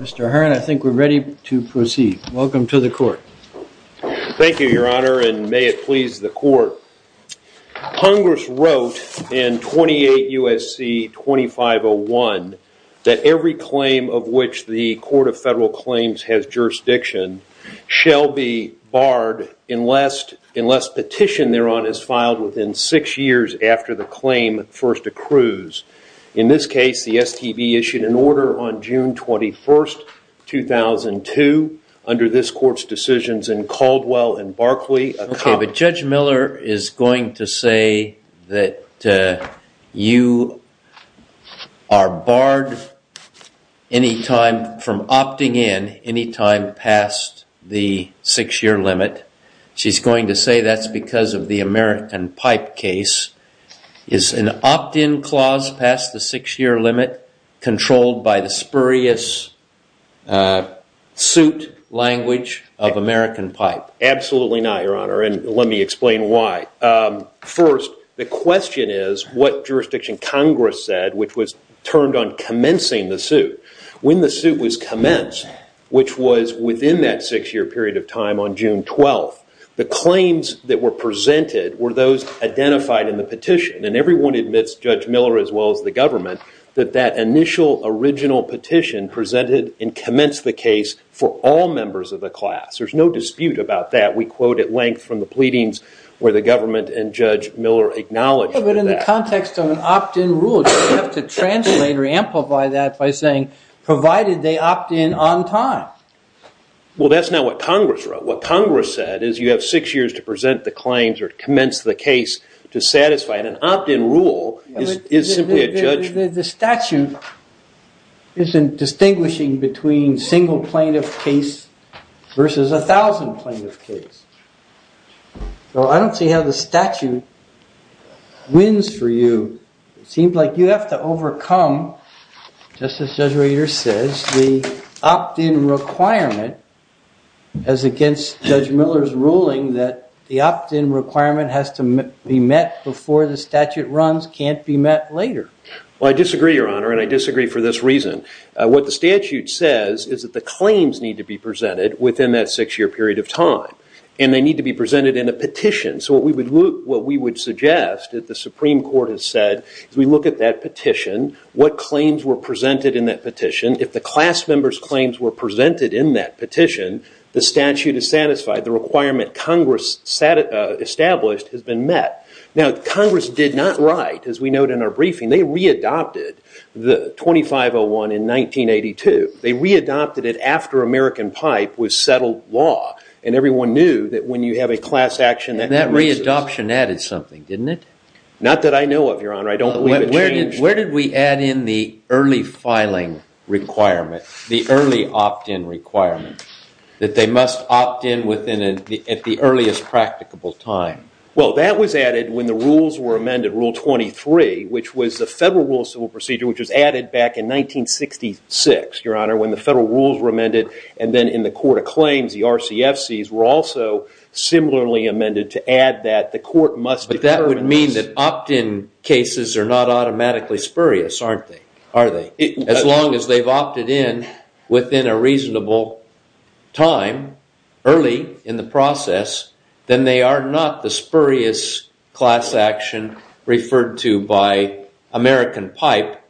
Mr. Hearn, I think we're ready to proceed. Welcome to the court. Thank you, Your Honor, and may it please the court. Congress wrote in 28 U.S.C. 2501 that every claim of which the Court of Federal Claims has jurisdiction shall be barred unless petition thereon is filed within six years after the claim first accrues. In this case, the STB issued an order on June 21st, 2002, under this court's decisions in Caldwell and Barclay. Okay, but Judge Miller is going to say that you are barred any time from opting in any time past the six-year limit. She's going to say that's because of the American Pipe case. Is an opt-in clause past the six-year limit controlled by the spurious suit language of American Pipe? Absolutely not, Your Honor, and let me explain why. First, the question is what jurisdiction Congress said, which was turned on commencing the suit. When the suit was commenced, which was within that six-year period of time on June 12th, the claims that were presented were those identified in the petition, and everyone admits, Judge Miller as well as the government, that that initial original petition presented and commenced the case for all members of the class. There's no dispute about that. We quote at length from the pleadings where the government and Judge Miller acknowledge that. But in the context of an opt-in rule, you have to translate or amplify that by saying provided they opt in on time. Well, that's not what Congress wrote. What Congress said is you have six years to present the claims or commence the case to satisfy it. An opt-in rule is simply a judgment. The statute isn't distinguishing between single plaintiff case versus 1,000 plaintiff case. So I don't see how the statute wins for you. It seems like you have to overcome, just as Judge Rader says, the opt-in requirement as against Judge Miller's ruling that the opt-in requirement has to be met before the statute runs can't be met later. Well, I disagree, Your Honor, and I disagree for this reason. What the statute says is that the claims need to be presented within that six-year period of time, and they need to be presented in a petition. So what we would suggest that the Supreme Court has said is we look at that petition, what claims were presented in that petition. If the class member's claims were presented in that petition, the statute is satisfied. The requirement Congress established has been met. Now, Congress did not write, as we note in our briefing, they readopted the 2501 in 1982. They readopted it after American Pipe was settled law, and everyone knew that when you have a class action, that means this. And that readoption added something, didn't it? Not that I know of, Your Honor. I don't believe it changed. Where did we add in the early filing requirement, the early opt-in requirement, that they must opt-in at the earliest practicable time? Well, that was added when the rules were amended, Rule 23, which was the Federal Rules of Civil Procedure, which was added back in 1966, Your Honor, when the federal rules were amended and then in the Court of Claims, the RCFCs were also similarly amended to add that the court must deferments. That would mean that opt-in cases are not automatically spurious, aren't they? Are they? As long as they've opted in within a reasonable time early in the process, then they are not the spurious class action referred to by American Pipe,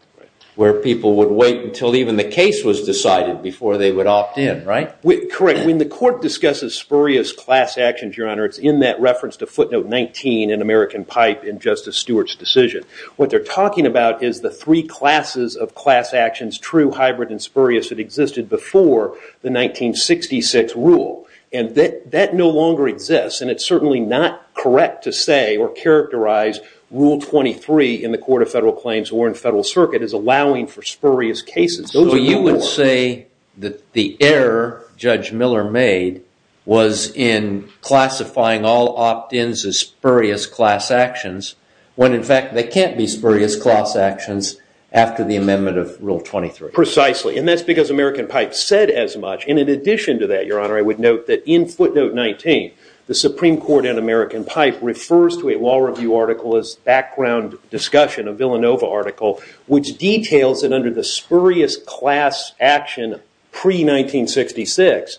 where people would wait until even the case was decided before they would opt in, right? Correct. When the court discusses spurious class actions, Your Honor, it's in that reference to footnote 19 in American Pipe in Justice Stewart's decision. What they're talking about is the three classes of class actions, true, hybrid, and spurious that existed before the 1966 rule. That no longer exists, and it's certainly not correct to say or characterize Rule 23 in the Court of Federal Claims or in Federal Circuit as allowing for spurious cases. So you would say that the error Judge Miller made was in classifying all opt-ins as spurious class actions when, in fact, they can't be spurious class actions after the amendment of Rule 23. Precisely. And that's because American Pipe said as much. And in addition to that, Your Honor, I would note that in footnote 19, the Supreme Court in American Pipe refers to a law review article as background discussion, a Villanova article, which details that under the spurious class action pre-1966,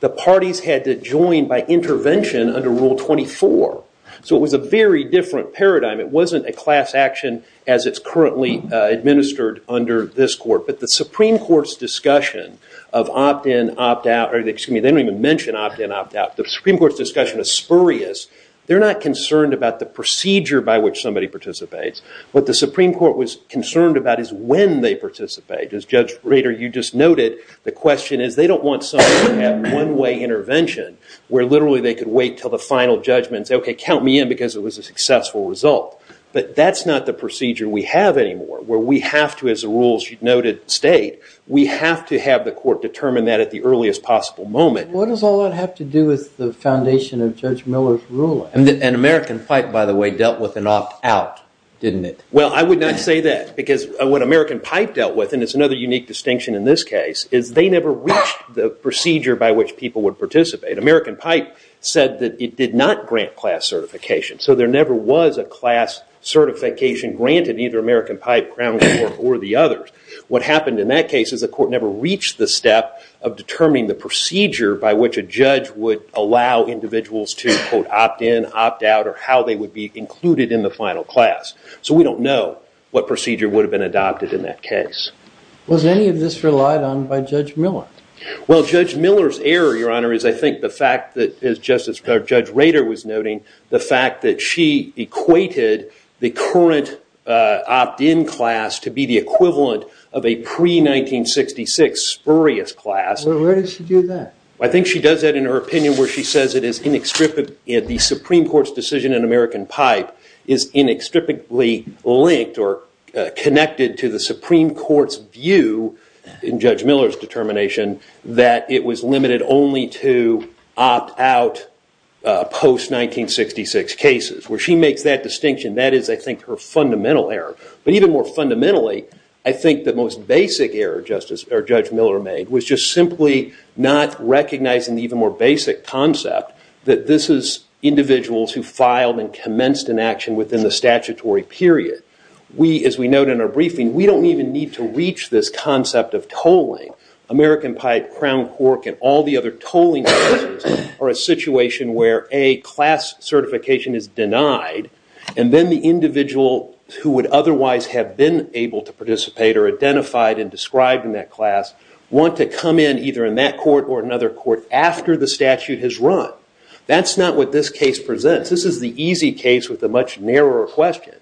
the parties had to join by intervention under Rule 24. So it was a very different paradigm. It wasn't a class action as it's currently administered under this court. But the Supreme Court's discussion of opt-in, opt-out, or excuse me, they don't even mention opt-in, opt-out, the Supreme Court's discussion of spurious, they're not concerned about the procedure by which somebody participates. What the Supreme Court was concerned about is when they participate. As Judge Rader, you just noted, the question is they don't want somebody to have one-way intervention where literally they could wait until the final judgment and say, OK, count me in because it was a successful result. But that's not the procedure we have anymore, where we have to, as the rules noted state, we have to have the court determine that at the earliest possible moment. What does all that have to do with the foundation of Judge Miller's ruling? And American Pipe, by the way, dealt with an opt-out, didn't it? Well, I would not say that because what American Pipe dealt with, and it's another unique distinction in this case, is they never reached the procedure by which people would participate. American Pipe said that it did not grant class certification. So there never was a class certification granted in either American Pipe, Crown Court, or the others. What happened in that case is the court never reached the step of determining the procedure by which a judge would allow individuals to, quote, opt-in, opt-out, or how they would be included in the final class. So we don't know what procedure would have been adopted in that case. Was any of this relied on by Judge Miller? Well, Judge Miller's error, Your Honor, is I think the fact that, as Judge Rader was noting, the fact that she equated the current opt-in class to be the equivalent of a pre-1966 spurious class. Well, where did she do that? I think she does that in her opinion where she says the Supreme Court's decision in American Pipe is inextricably linked or connected to the Supreme Court's view in Judge Miller's determination that it was limited only to opt-out post-1966 cases. Where she makes that distinction, that is, I think, her fundamental error. But even more fundamentally, I think the most basic error Judge Miller made was just simply not recognizing the even more basic concept that this is individuals who filed and commenced in action within the statutory period. As we note in our briefing, we don't even need to reach this concept of tolling. American Pipe, Crown Cork, and all the other tolling places are a situation where a class certification is denied, and then the individual who would otherwise have been able to participate or identified and described in that class want to come in either in that court or another court after the statute has run. That's not what this case presents. This is the easy case with a much narrower question.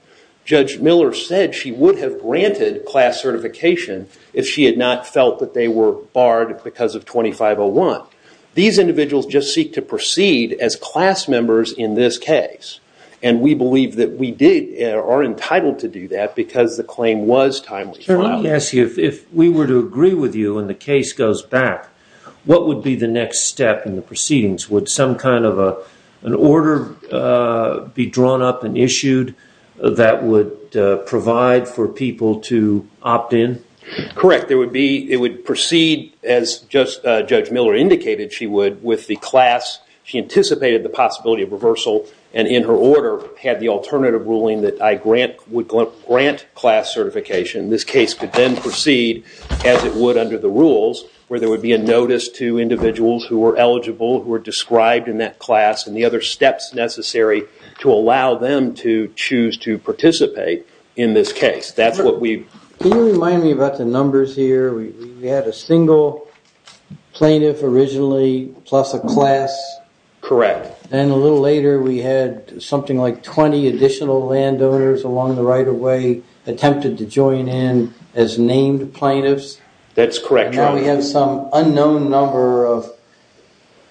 Judge Miller said she would have granted class certification if she had not felt that they were barred because of 2501. These individuals just seek to proceed as class members in this case, and we believe that we are entitled to do that because the claim was timely. Sir, let me ask you, if we were to agree with you and the case goes back, what would be the next step in the proceedings? Would some kind of an order be drawn up and issued that would provide for people to opt in? Correct. It would proceed as Judge Miller indicated she would with the class. She anticipated the possibility of reversal, and in her order had the alternative ruling that I would grant class certification. This case could then proceed as it would under the rules, where there would be a notice to individuals who were eligible, who were described in that class, and the other steps necessary to allow them to choose to participate in this case. That's what we... Can you remind me about the numbers here? We had a single plaintiff originally, plus a class. Correct. And a little later we had something like 20 additional landowners along the right-of-way attempted to join in as named plaintiffs. That's correct, Your Honor. And now we have some unknown number of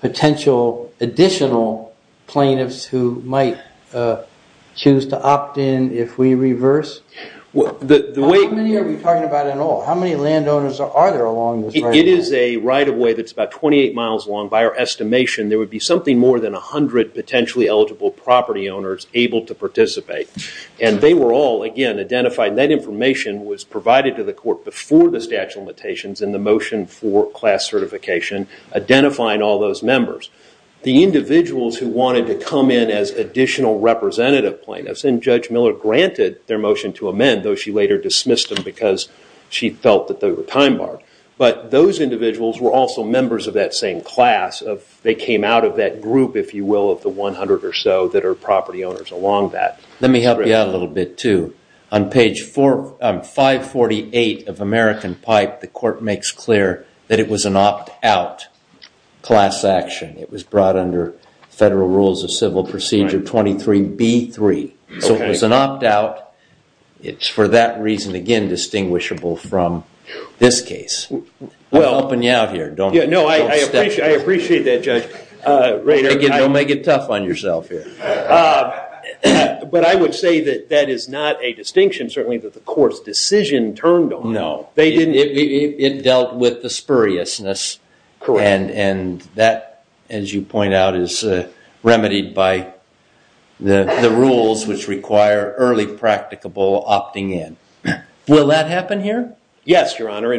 potential additional plaintiffs who might choose to opt in if we reverse? The way... How many are we talking about in all? How many landowners are there along this right-of-way? It is a right-of-way that's about 28 miles long. By our estimation, there would be something more than 100 potentially eligible property owners able to participate. And they were all, again, identified. That information was provided to the court before the statute of limitations in the motion for class certification, identifying all those members. The individuals who wanted to come in as additional representative plaintiffs, and Judge Miller granted their motion to amend, though she later dismissed them because she felt that they were time-barred. But those individuals were also members of that same class. They came out of that group, if you will, of the 100 or so that are property owners along that. Let me help you out a little bit, too. On page 548 of American Pipe, the court makes clear that it was an opt-out class action. It was brought under Federal Rules of Civil Procedure 23B3. So it was an opt-out. It's for that reason, again, distinguishable from this case. I'm helping you out here. No, I appreciate that, Judge Rader. Don't make it tough on yourself here. But I would say that that is not a distinction, certainly, that the court's decision turned on. No. It dealt with the spuriousness. And that, as you point out, is remedied by the rules which require early practicable opting in. Will that happen here? Yes, Your Honor.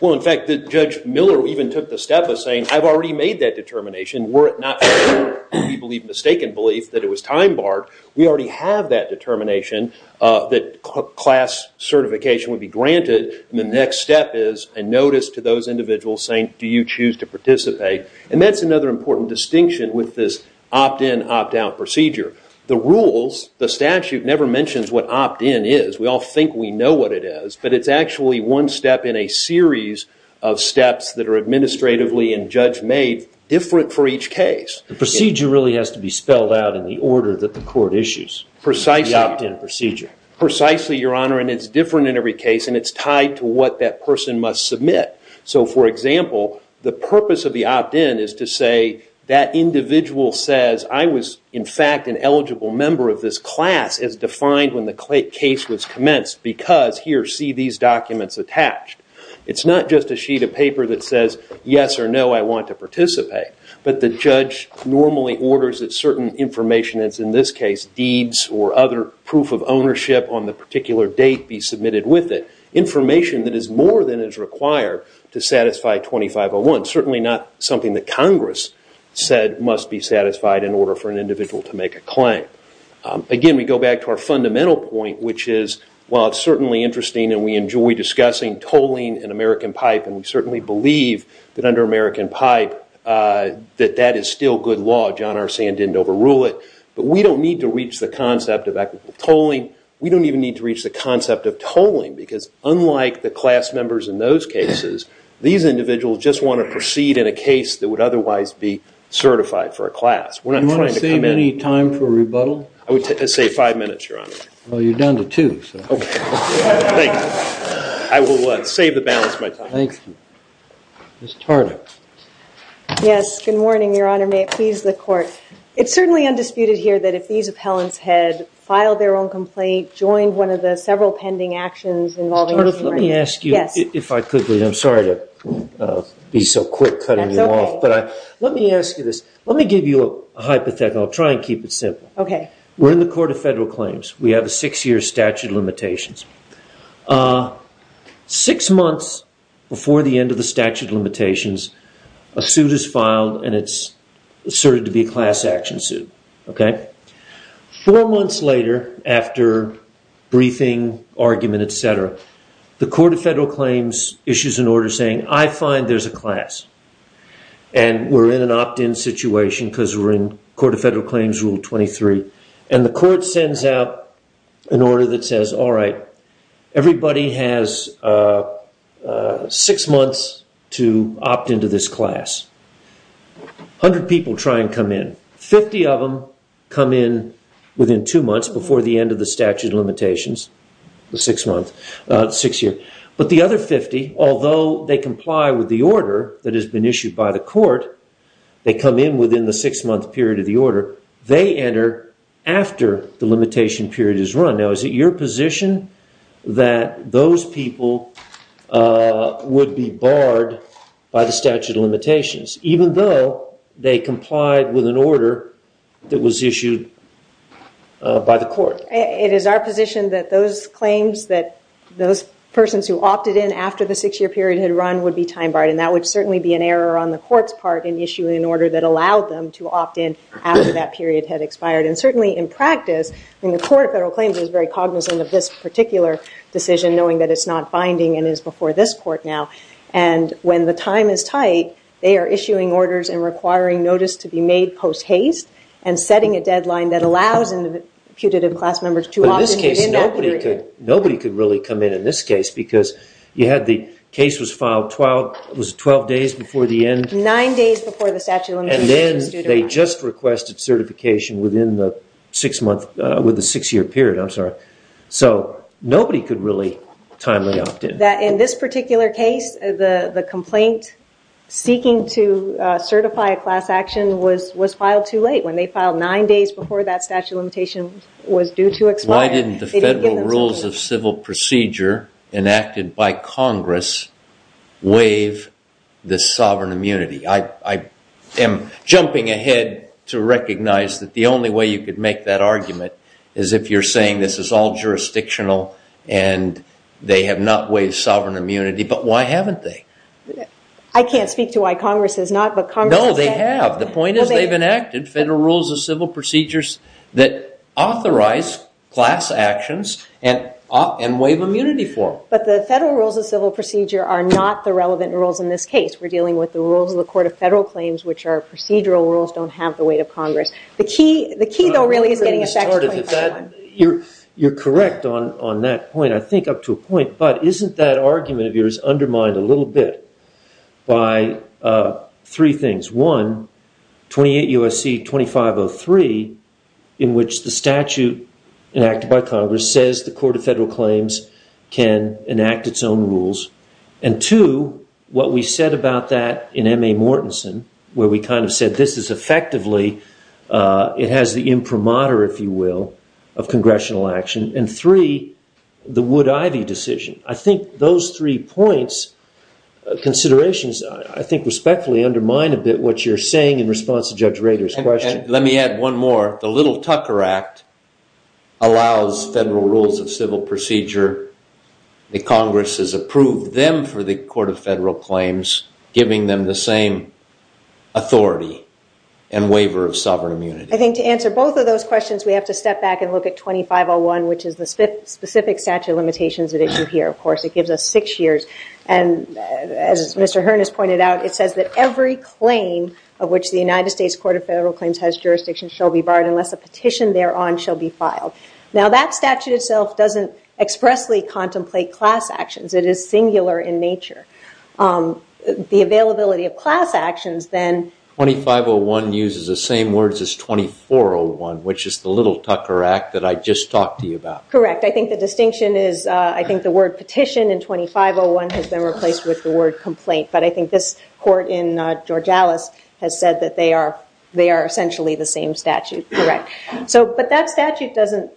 Well, in fact, Judge Miller even took the step of saying, I've already made that determination. Were it not for people's mistaken belief that it was time-barred, we already have that determination that class certification would be granted. And the next step is a notice to those individuals saying, do you choose to participate? And that's another important distinction with this opt-in, opt-out procedure. The rules, the statute, never mentions what opt-in is. We all think we know what it is. But it's actually one step in a series of steps that are administratively and judge-made different for each case. The procedure really has to be spelled out in the order that the court issues, the opt-in procedure. Precisely, Your Honor. And it's different in every case. And it's tied to what that person must submit. So for example, the purpose of the opt-in is to say that individual says, I was, in fact, an eligible member of this class as defined when the case was commenced because, here, see these documents attached. It's not just a sheet of paper that says, yes or no, I want to participate. But the judge normally orders that certain information that's, in this case, deeds or other proof of ownership on the particular date be submitted with it. Information that is more than is required to satisfy 2501. Certainly not something that Congress said must be satisfied in order for an individual to make a claim. Again, we go back to our fundamental point, which is, while it's certainly interesting and we enjoy discussing tolling in American pipe, and we certainly believe that under American pipe that that is still good law. John R. Sand didn't overrule it. But we don't need to reach the concept of equitable tolling. We don't even need to reach the concept of tolling because, unlike the class members in those cases, these individuals just want to proceed in a case that would otherwise be certified for a class. We're not trying to come in. Do you want to save any time for rebuttal? I would say five minutes, Your Honor. Well, you're down to two. OK. Thank you. I will save the balance of my time. Thank you. Ms. Tardy. Yes, good morning, Your Honor. May it please the court. It's certainly undisputed here that if these appellants had filed their own complaint, joined one of the several pending actions involving the human rights. Ms. Tardy, let me ask you, if I could, please. I'm sorry to be so quick cutting you off. That's OK. Let me ask you this. Let me give you a hypothetical. I'll try and keep it simple. We're in the Court of Federal Claims. We have a six-year statute of limitations. Six months before the end of the statute of limitations, a suit is filed and it's asserted to be a class action suit. OK. Four months later, after briefing, argument, et cetera, the Court of Federal Claims issues an order saying, I find there's a class. And we're in an opt-in situation because we're in Court of Federal Claims Rule 23. And the court sends out an order that says, all right, everybody has six months to opt into this class. 100 people try and come in. 50 of them come in within two months before the end of the statute of limitations, the six-year. But the other 50, although they comply with the order that has been issued by the court, they come in within the six-month period of the order. They enter after the limitation period is run. Now, is it your position that those people would be barred by the statute of limitations, even though they complied with an order that was issued by the court? It is our position that those claims, that those persons who opted in after the six-year period had run would be time-barred. And that would certainly be an error on the court's part in issuing an order that allowed them to opt-in after that period had expired. And certainly, in practice, the Court of Federal Claims is very cognizant of this particular decision, knowing that it's not binding and is before this court now. And when the time is tight, they are issuing orders and requiring notice to be made post-haste and setting a deadline that allows the putative class members to opt-in within that period. Nobody could really come in in this case, because you had the case was filed 12 days before the end. Nine days before the statute of limitations was due to run. And then they just requested certification within the six-year period. So nobody could really timely opt-in. In this particular case, the complaint seeking to certify a class action was filed too late. When they filed nine days before that statute of limitation was due to expire, they didn't give them the statute of limitations. Why didn't the Federal Rules of Civil Procedure, enacted by Congress, waive the sovereign immunity? I am jumping ahead to recognize that the only way you could make that argument is if you're saying this is all jurisdictional and they have not waived sovereign immunity. But why haven't they? I can't speak to why Congress has not, but Congress has. No, they have. The point is they've enacted Federal Rules of Civil Procedures that authorize class actions and waive immunity for them. But the Federal Rules of Civil Procedure are not the relevant rules in this case. We're dealing with the rules of the Court of Federal Claims, which are procedural rules, don't have the weight of Congress. The key, though, really, is getting a fax point in time. You're correct on that point. I think up to a point. But isn't that argument of yours undermined a little bit by three things? One, 28 U.S.C. 2503, in which the statute enacted by Congress says the Court of Federal Claims can enact its own rules. And two, what we said about that in M.A. Mortensen, where we kind of said this is effectively, it has the imprimatur, if you will, of congressional action. And three, the Wood-Ivey decision. I think those three points, considerations, I think respectfully undermine a bit what you're saying in response to Judge Rader's question. Let me add one more. The Little-Tucker Act allows Federal Rules of Civil Procedure. The Congress has approved them for the Court of Federal Claims, giving them the same authority and waiver of sovereign immunity. I think to answer both of those questions, we have to step back and look at 2501, which is the specific statute of limitations at issue here, of course. It gives us six years. And as Mr. Harness pointed out, it says that every claim of which the United States Court of Federal Claims has jurisdiction shall be barred unless a petition thereon shall be filed. Now, that statute itself doesn't expressly contemplate class actions. It is singular in nature. The availability of class actions, then, 2501 uses the same words as 2401, which is the Little-Tucker Act that I just talked to you about. Correct. I think the distinction is, I think, the word petition in 2501 has been replaced with the word complaint. But I think this court in George Alice has said that they are essentially the same statute. Correct. But that statute doesn't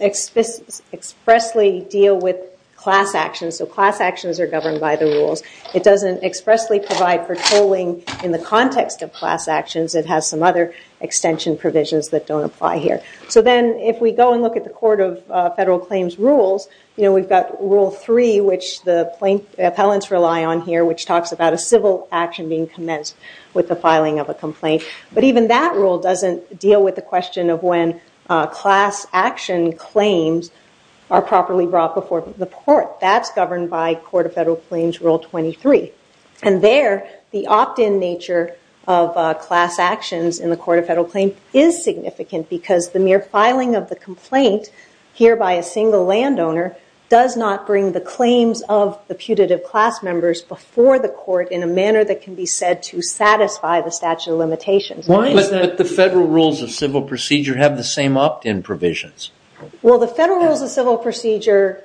expressly deal with class actions. So class actions are governed by the rules. It doesn't expressly provide for tolling in the context of class actions. It has some other extension provisions that don't apply here. So then, if we go and look at the Court of Federal Claims rules, we've got Rule 3, which the appellants rely on here, which talks about a civil action being commenced with the filing of a complaint. But even that rule doesn't deal with the question of when class action claims are properly brought before the court. That's governed by Court of Federal Claims Rule 23. And there, the opt-in nature of class actions in the Court of Federal Claims is significant because the mere filing of the complaint here by a single landowner does not bring the claims of the putative class members before the court in a manner that can be said to satisfy the statute of limitations. Why is it that the federal rules of civil procedure have the same opt-in provisions? Well, the federal rules of civil procedure,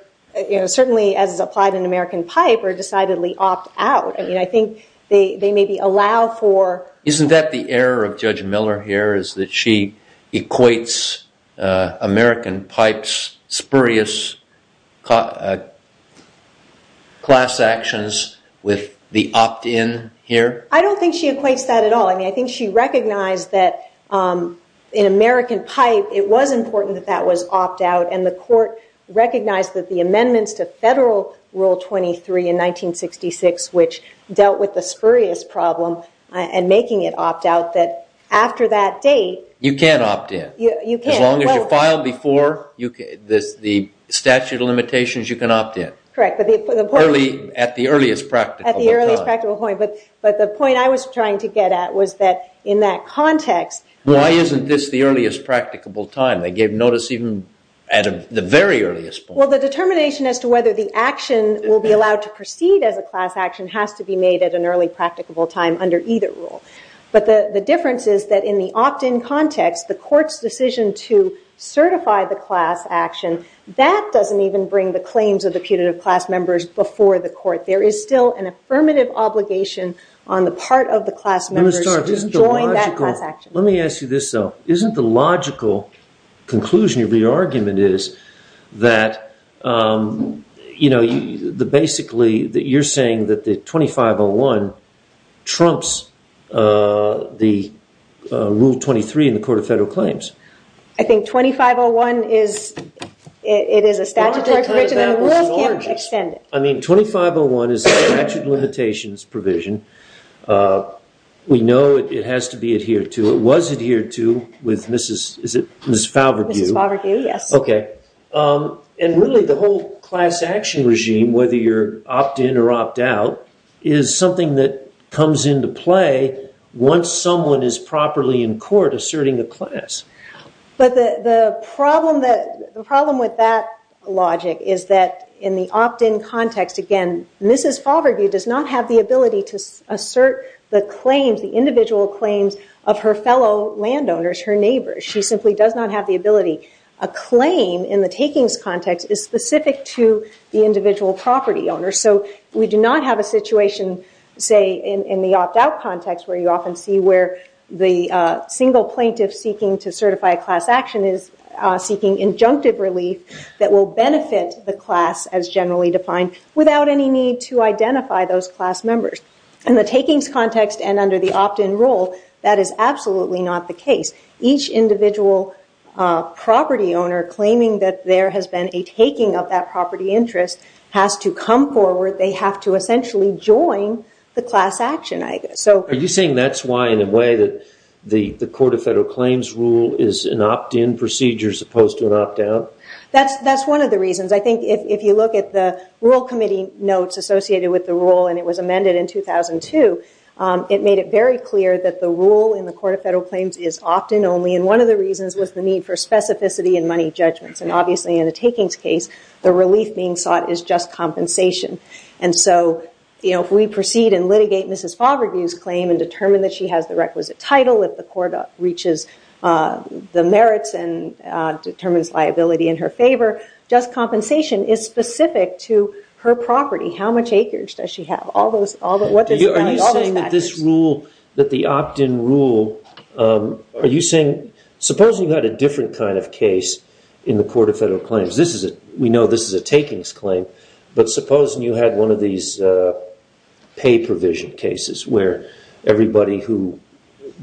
certainly as applied in American pipe, are decidedly opt-out. I mean, I think they maybe allow for. Isn't that the error of Judge Miller here, is that she equates American pipe's spurious class actions with the opt-in here? I don't think she equates that at all. I mean, I think she recognized that in American pipe, it was important that that was opt-out. And the court recognized that the amendments to Federal Rule 23 in 1966, which dealt with the spurious problem and making it opt-out, that after that date. You can't opt-in. You can't. As long as you file before the statute of limitations, you can opt-in. Correct. At the earliest practical time. At the earliest practical point. But the point I was trying to get at was that in that context. Why isn't this the earliest practicable time? They gave notice even at the very earliest point. Well, the determination as to whether the action will be allowed to proceed as a class action has to be made at an early practicable time under either rule. But the difference is that in the opt-in context, the court's decision to certify the class action, that doesn't even bring the claims of the putative class members before the court. There is still an affirmative obligation on the part of the class members to join that class action. Let me ask you this, though. Isn't the logical conclusion of your argument is that basically, you're saying that the 2501 trumps the Rule 23 in the Court of Federal Claims? I think 2501 is a statutory provision, and the rules can't extend it. I mean, 2501 is a statute of limitations provision. We know it has to be adhered to. It was adhered to with Mrs. Falverdue. Mrs. Falverdue, yes. OK. And really, the whole class action regime, whether you're opt-in or opt-out, is something that comes into play once someone is properly in court asserting a class. But the problem with that logic is that in the opt-in context, again, Mrs. Falverdue does not have the ability to assert the claims, the individual claims, of her fellow landowners, her neighbors. She simply does not have the ability A claim in the takings context is specific to the individual property owner. So we do not have a situation, say, in the opt-out context, where you often see where the single plaintiff seeking to certify a class action is seeking injunctive relief that will benefit the class, as generally defined, without any need to identify those class members. In the takings context and under the opt-in rule, that is absolutely not the case. Each individual property owner claiming that there has been a taking of that property interest has to come forward. They have to essentially join the class action, I guess. So are you saying that's why, in a way, that the Court of Federal Claims rule is an opt-in procedure as opposed to an opt-out? That's one of the reasons. I think if you look at the rule committee notes associated with the rule, and it was amended in 2002, it made it very clear that the rule in the Court of Federal Claims is opt-in only, and one of the reasons was the need for specificity in money judgments. And obviously, in a takings case, the relief being sought is just compensation. And so if we proceed and litigate Mrs. Favreau's claim and determine that she has the requisite title, if the court reaches the merits and determines liability in her favor, just compensation is specific to her property. How much acreage does she have? All those factors. Are you saying that this rule, that the opt-in rule, are you saying, supposing you had a different kind of case in the Court of Federal Claims? We know this is a takings claim, but supposing you had one of these pay provision cases where everybody who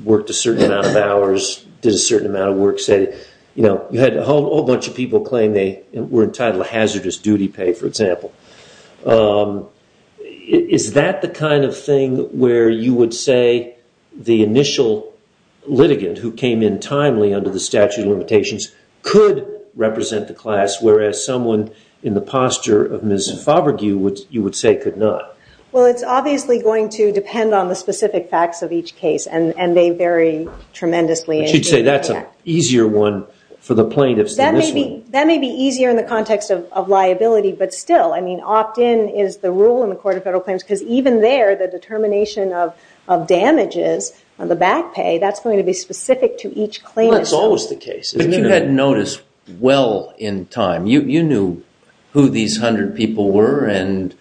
worked a certain amount of hours did a certain amount of work, say, you had a whole bunch of people claim they were entitled to hazardous duty pay, for example. Is that the kind of thing where you would say the initial litigant who came in timely under the statute of limitations could represent the class, whereas someone in the posture of Mrs. Favreau, you would say, could not? Well, it's obviously going to depend on the specific facts of each case, and they vary tremendously. I should say that's an easier one for the plaintiffs than this one. That may be easier in the context of liability, but still, I mean, opt-in is the rule in the Court of Federal Claims, because even there, the determination of damages on the back pay, that's going to be specific to each claim. Well, that's always the case, isn't it? But you had notice well in time. You knew who these 100 people were and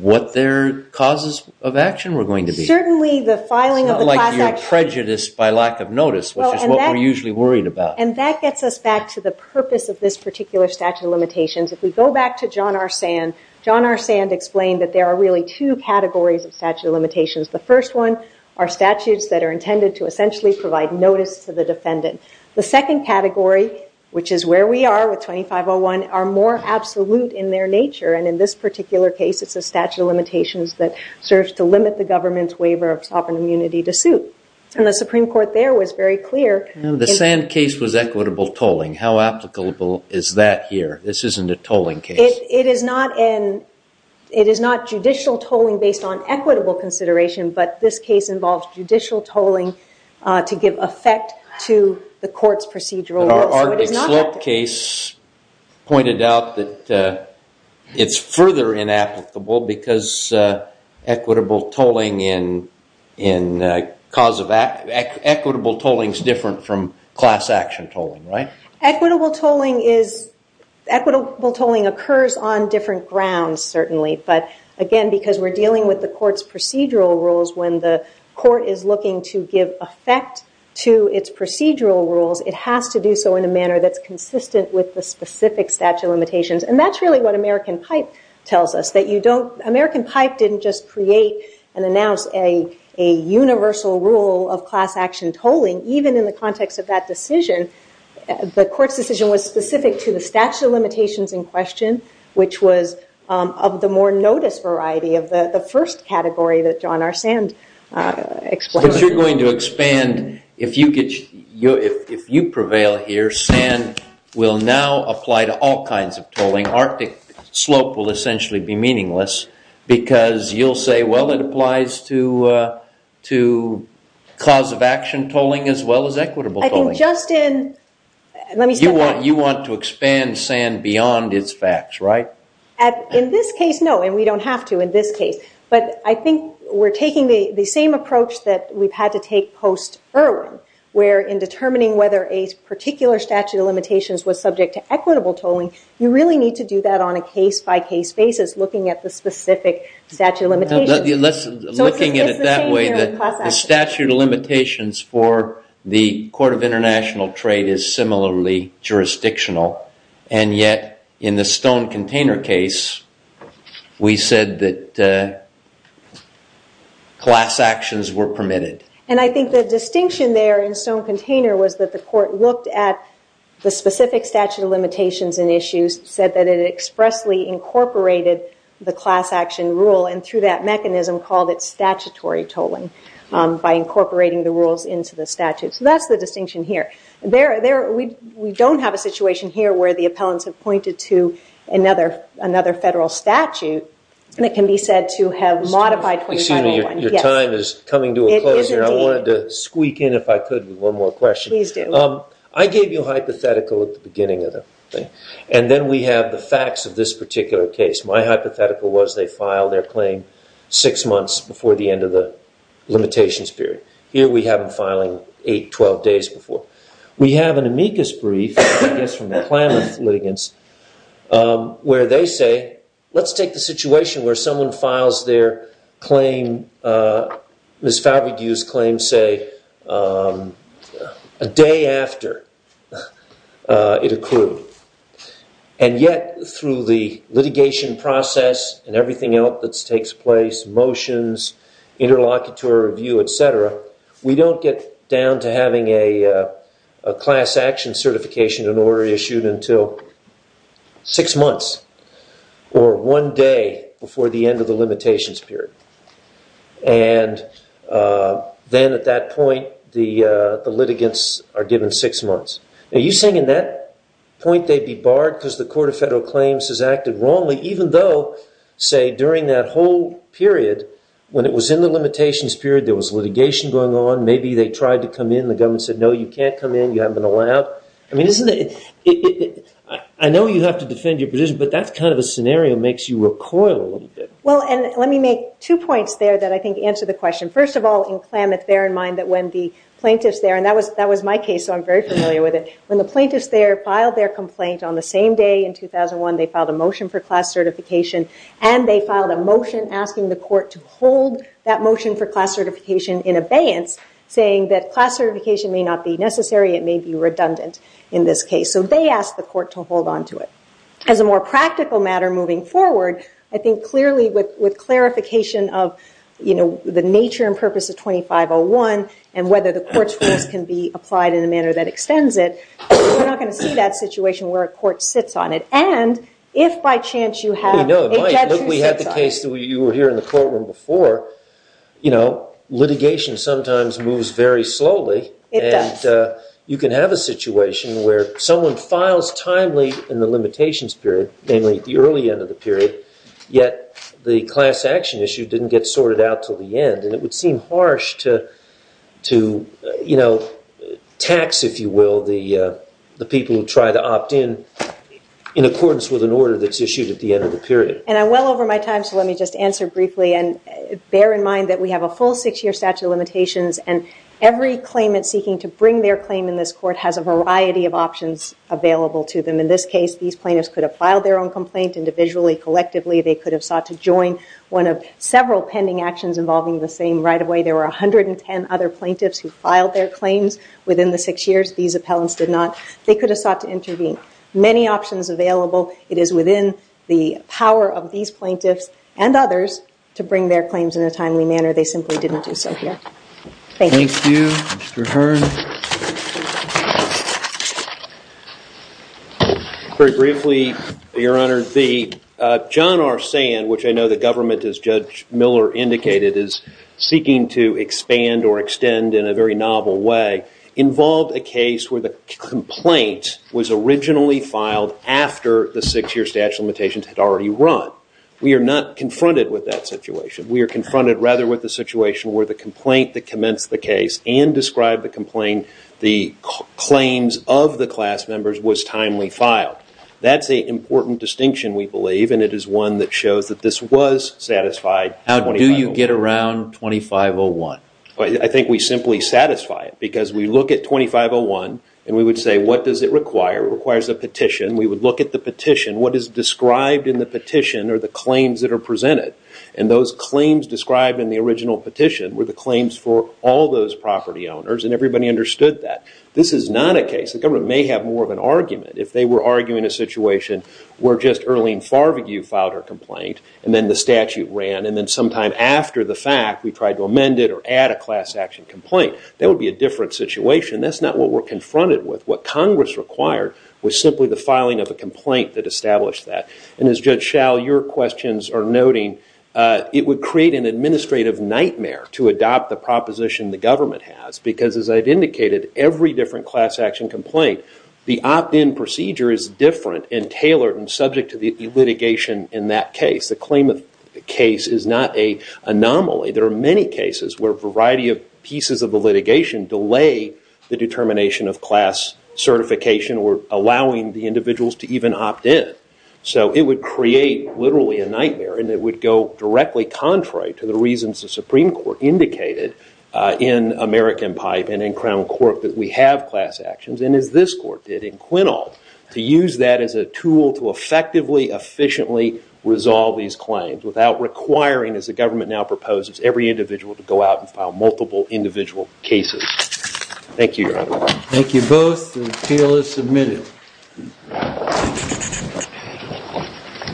what their causes of action were going to be. Certainly, the filing of the class action. It's not like you're prejudiced by lack of notice, which is what we're usually worried about. And that gets us back to the purpose of this particular statute of limitations. If we go back to John R. Sand, John R. Sand explained that there are really two categories of statute of limitations. The first one are statutes that are intended to essentially provide notice to the defendant. The second category, which is where we are with 2501, are more absolute in their nature. And in this particular case, it's a statute of limitations that serves to limit the government's waiver of sovereign immunity to suit. And the Supreme Court there was very clear. The Sand case was equitable tolling. How applicable is that here? This isn't a tolling case. It is not judicial tolling based on equitable consideration, but this case involves judicial tolling to give effect to the court's procedural rules. But our Ardick Slope case pointed out that it's further inapplicable because equitable tolling in cause of act, equitable tolling is different from class action tolling, right? Equitable tolling occurs on different grounds, certainly. But again, because we're dealing with the court's procedural rules, when the court is looking to give effect to its procedural rules, it has to do so in a manner that's consistent with the specific statute of limitations. And that's really what American Pipe tells us, that American Pipe didn't just create and announce a universal rule of class action tolling, even in the context of that decision. The court's decision was specific to the statute of limitations in question, which was of the more notice variety of the first category that John R. Sand explained. But you're going to expand. If you prevail here, Sand will now apply to all kinds of tolling. Arctic Slope will essentially be meaningless, because you'll say, well, it applies to class of action tolling as well as equitable tolling. I think just in, let me say that. You want to expand Sand beyond its facts, right? In this case, no. And we don't have to in this case. But I think we're taking the same approach that we've had to take post-Irwin, where in determining whether a particular statute of limitations was subject to equitable tolling, you really need to do that on a case-by-case basis, looking at the specific statute of limitations. Looking at it that way, the statute of limitations for the Court of International Trade is similarly jurisdictional. And yet, in the Stone Container case, we said that class actions were permitted. And I think the distinction there in Stone Container was that the court looked at the specific statute of limitations and issues, said that it expressly incorporated the class action rule. And through that mechanism, called it statutory tolling by incorporating the rules into the statute. So that's the distinction here. We don't have a situation here where the appellants have pointed to another federal statute that can be said to have modified 25-01. Excuse me, your time is coming to a close here. I wanted to squeak in, if I could, with one more question. Please do. I gave you a hypothetical at the beginning of the thing. And then we have the facts of this particular case. My hypothetical was they filed their claim six months before the end of the limitations period. Here we have them filing 8, 12 days before. We have an amicus brief, I guess from the Klamath litigants, where they say, let's take the situation where someone files their claim, Ms. Favregue's claim, say, a day after it accrued. And yet, through the litigation process and everything else that takes place, motions, interlocutory review, et cetera, we don't get down to having a class action certification in order issued until six months or one day before the end of the limitations period. And then at that point, the litigants are given six months. Are you saying in that point, they'd be barred because the Court of Federal Claims has acted wrongly, even though, say, during that whole period, when it was in the limitations period, there was litigation going on. Maybe they tried to come in. The government said, no, you can't come in. You haven't been allowed. I mean, isn't it? I know you have to defend your position, but that's kind of a scenario makes you recoil a little bit. Well, and let me make two points there that I think answer the question. First of all, in Klamath, bear in mind that when the plaintiffs there, and that was my case, so I'm very familiar with it. When the plaintiffs there filed their complaint on the same day in 2001, they filed a motion for class certification. And they filed a motion asking the court to hold that motion for class certification in abeyance, saying that class certification may not be necessary. It may be redundant in this case. So they asked the court to hold on to it. As a more practical matter moving forward, I think clearly with clarification of the nature and purpose of 2501 and whether the court's rules can be applied in a manner that extends it, we're not going to see that situation where a court sits on it. And if by chance you have a judge who sits on it. We had the case that you were here in the courtroom before. Litigation sometimes moves very slowly. It does. You can have a situation where someone files timely in the limitations period, namely the early end of the period, yet the class action issue didn't get sorted out till the end. And it would seem harsh to tax, if you will, the people who try to opt in in accordance with an order that's issued at the end of the period. And I'm well over my time. So let me just answer briefly. And bear in mind that we have a full six year statute of limitations. And every claimant seeking to bring their claim in this court has a variety of options available to them. In this case, these plaintiffs could have filed their own complaint individually, collectively. They could have sought to join one of several pending actions involving the same right-of-way. There were 110 other plaintiffs who filed their claims within the six years. These appellants did not. They could have sought to intervene. Many options available. It is within the power of these plaintiffs and others to bring their claims in a timely manner. They simply didn't do so here. Thank you. Thank you. Mr. Hearn. Very briefly, Your Honor. The John R. Sand, which I know the government, as Judge Miller indicated, is seeking to expand or extend in a very novel way, involved a case where the complaint was originally filed after the six year statute of limitations had already run. We are not confronted with that situation. We are confronted rather with the situation where the complaint that commenced the case and described the complaint, the claims of the class members, was timely filed. That's a important distinction, we believe. And it is one that shows that this was satisfied. How do you get around 2501? I think we simply satisfy it. Because we look at 2501 and we would say, what does it require? It requires a petition. We would look at the petition. What is described in the petition are the claims that are presented. And those claims described in the original petition were the claims for all those property owners. And everybody understood that. This is not a case, the government may have more of an argument. If they were arguing a situation where just Erlene Farbigue filed her complaint, and then the statute ran, and then sometime after the fact, we tried to amend it or add a class action complaint, that would be a different situation. That's not what we're confronted with. What Congress required was simply the filing of a complaint that established that. And as Judge Schall, your questions are noting, it would create an administrative nightmare to adopt the proposition the government has. Because as I've indicated, every different class action complaint, the opt-in procedure is different and tailored and subject to the litigation in that case. The claimant case is not a anomaly. There are many cases where a variety of pieces of the litigation delay the determination of class certification or allowing the individuals to even opt in. So it would create literally a nightmare. And it would go directly contrary to the reasons the Supreme Court indicated in American Pipe and in Crown Court that we have class actions. And as this court did in Quinault, to use that as a tool to effectively, efficiently resolve these claims without requiring, as the government now proposes, every individual to go out and file multiple individual cases. Thank you, Your Honor. Thank you both. The appeal is submitted.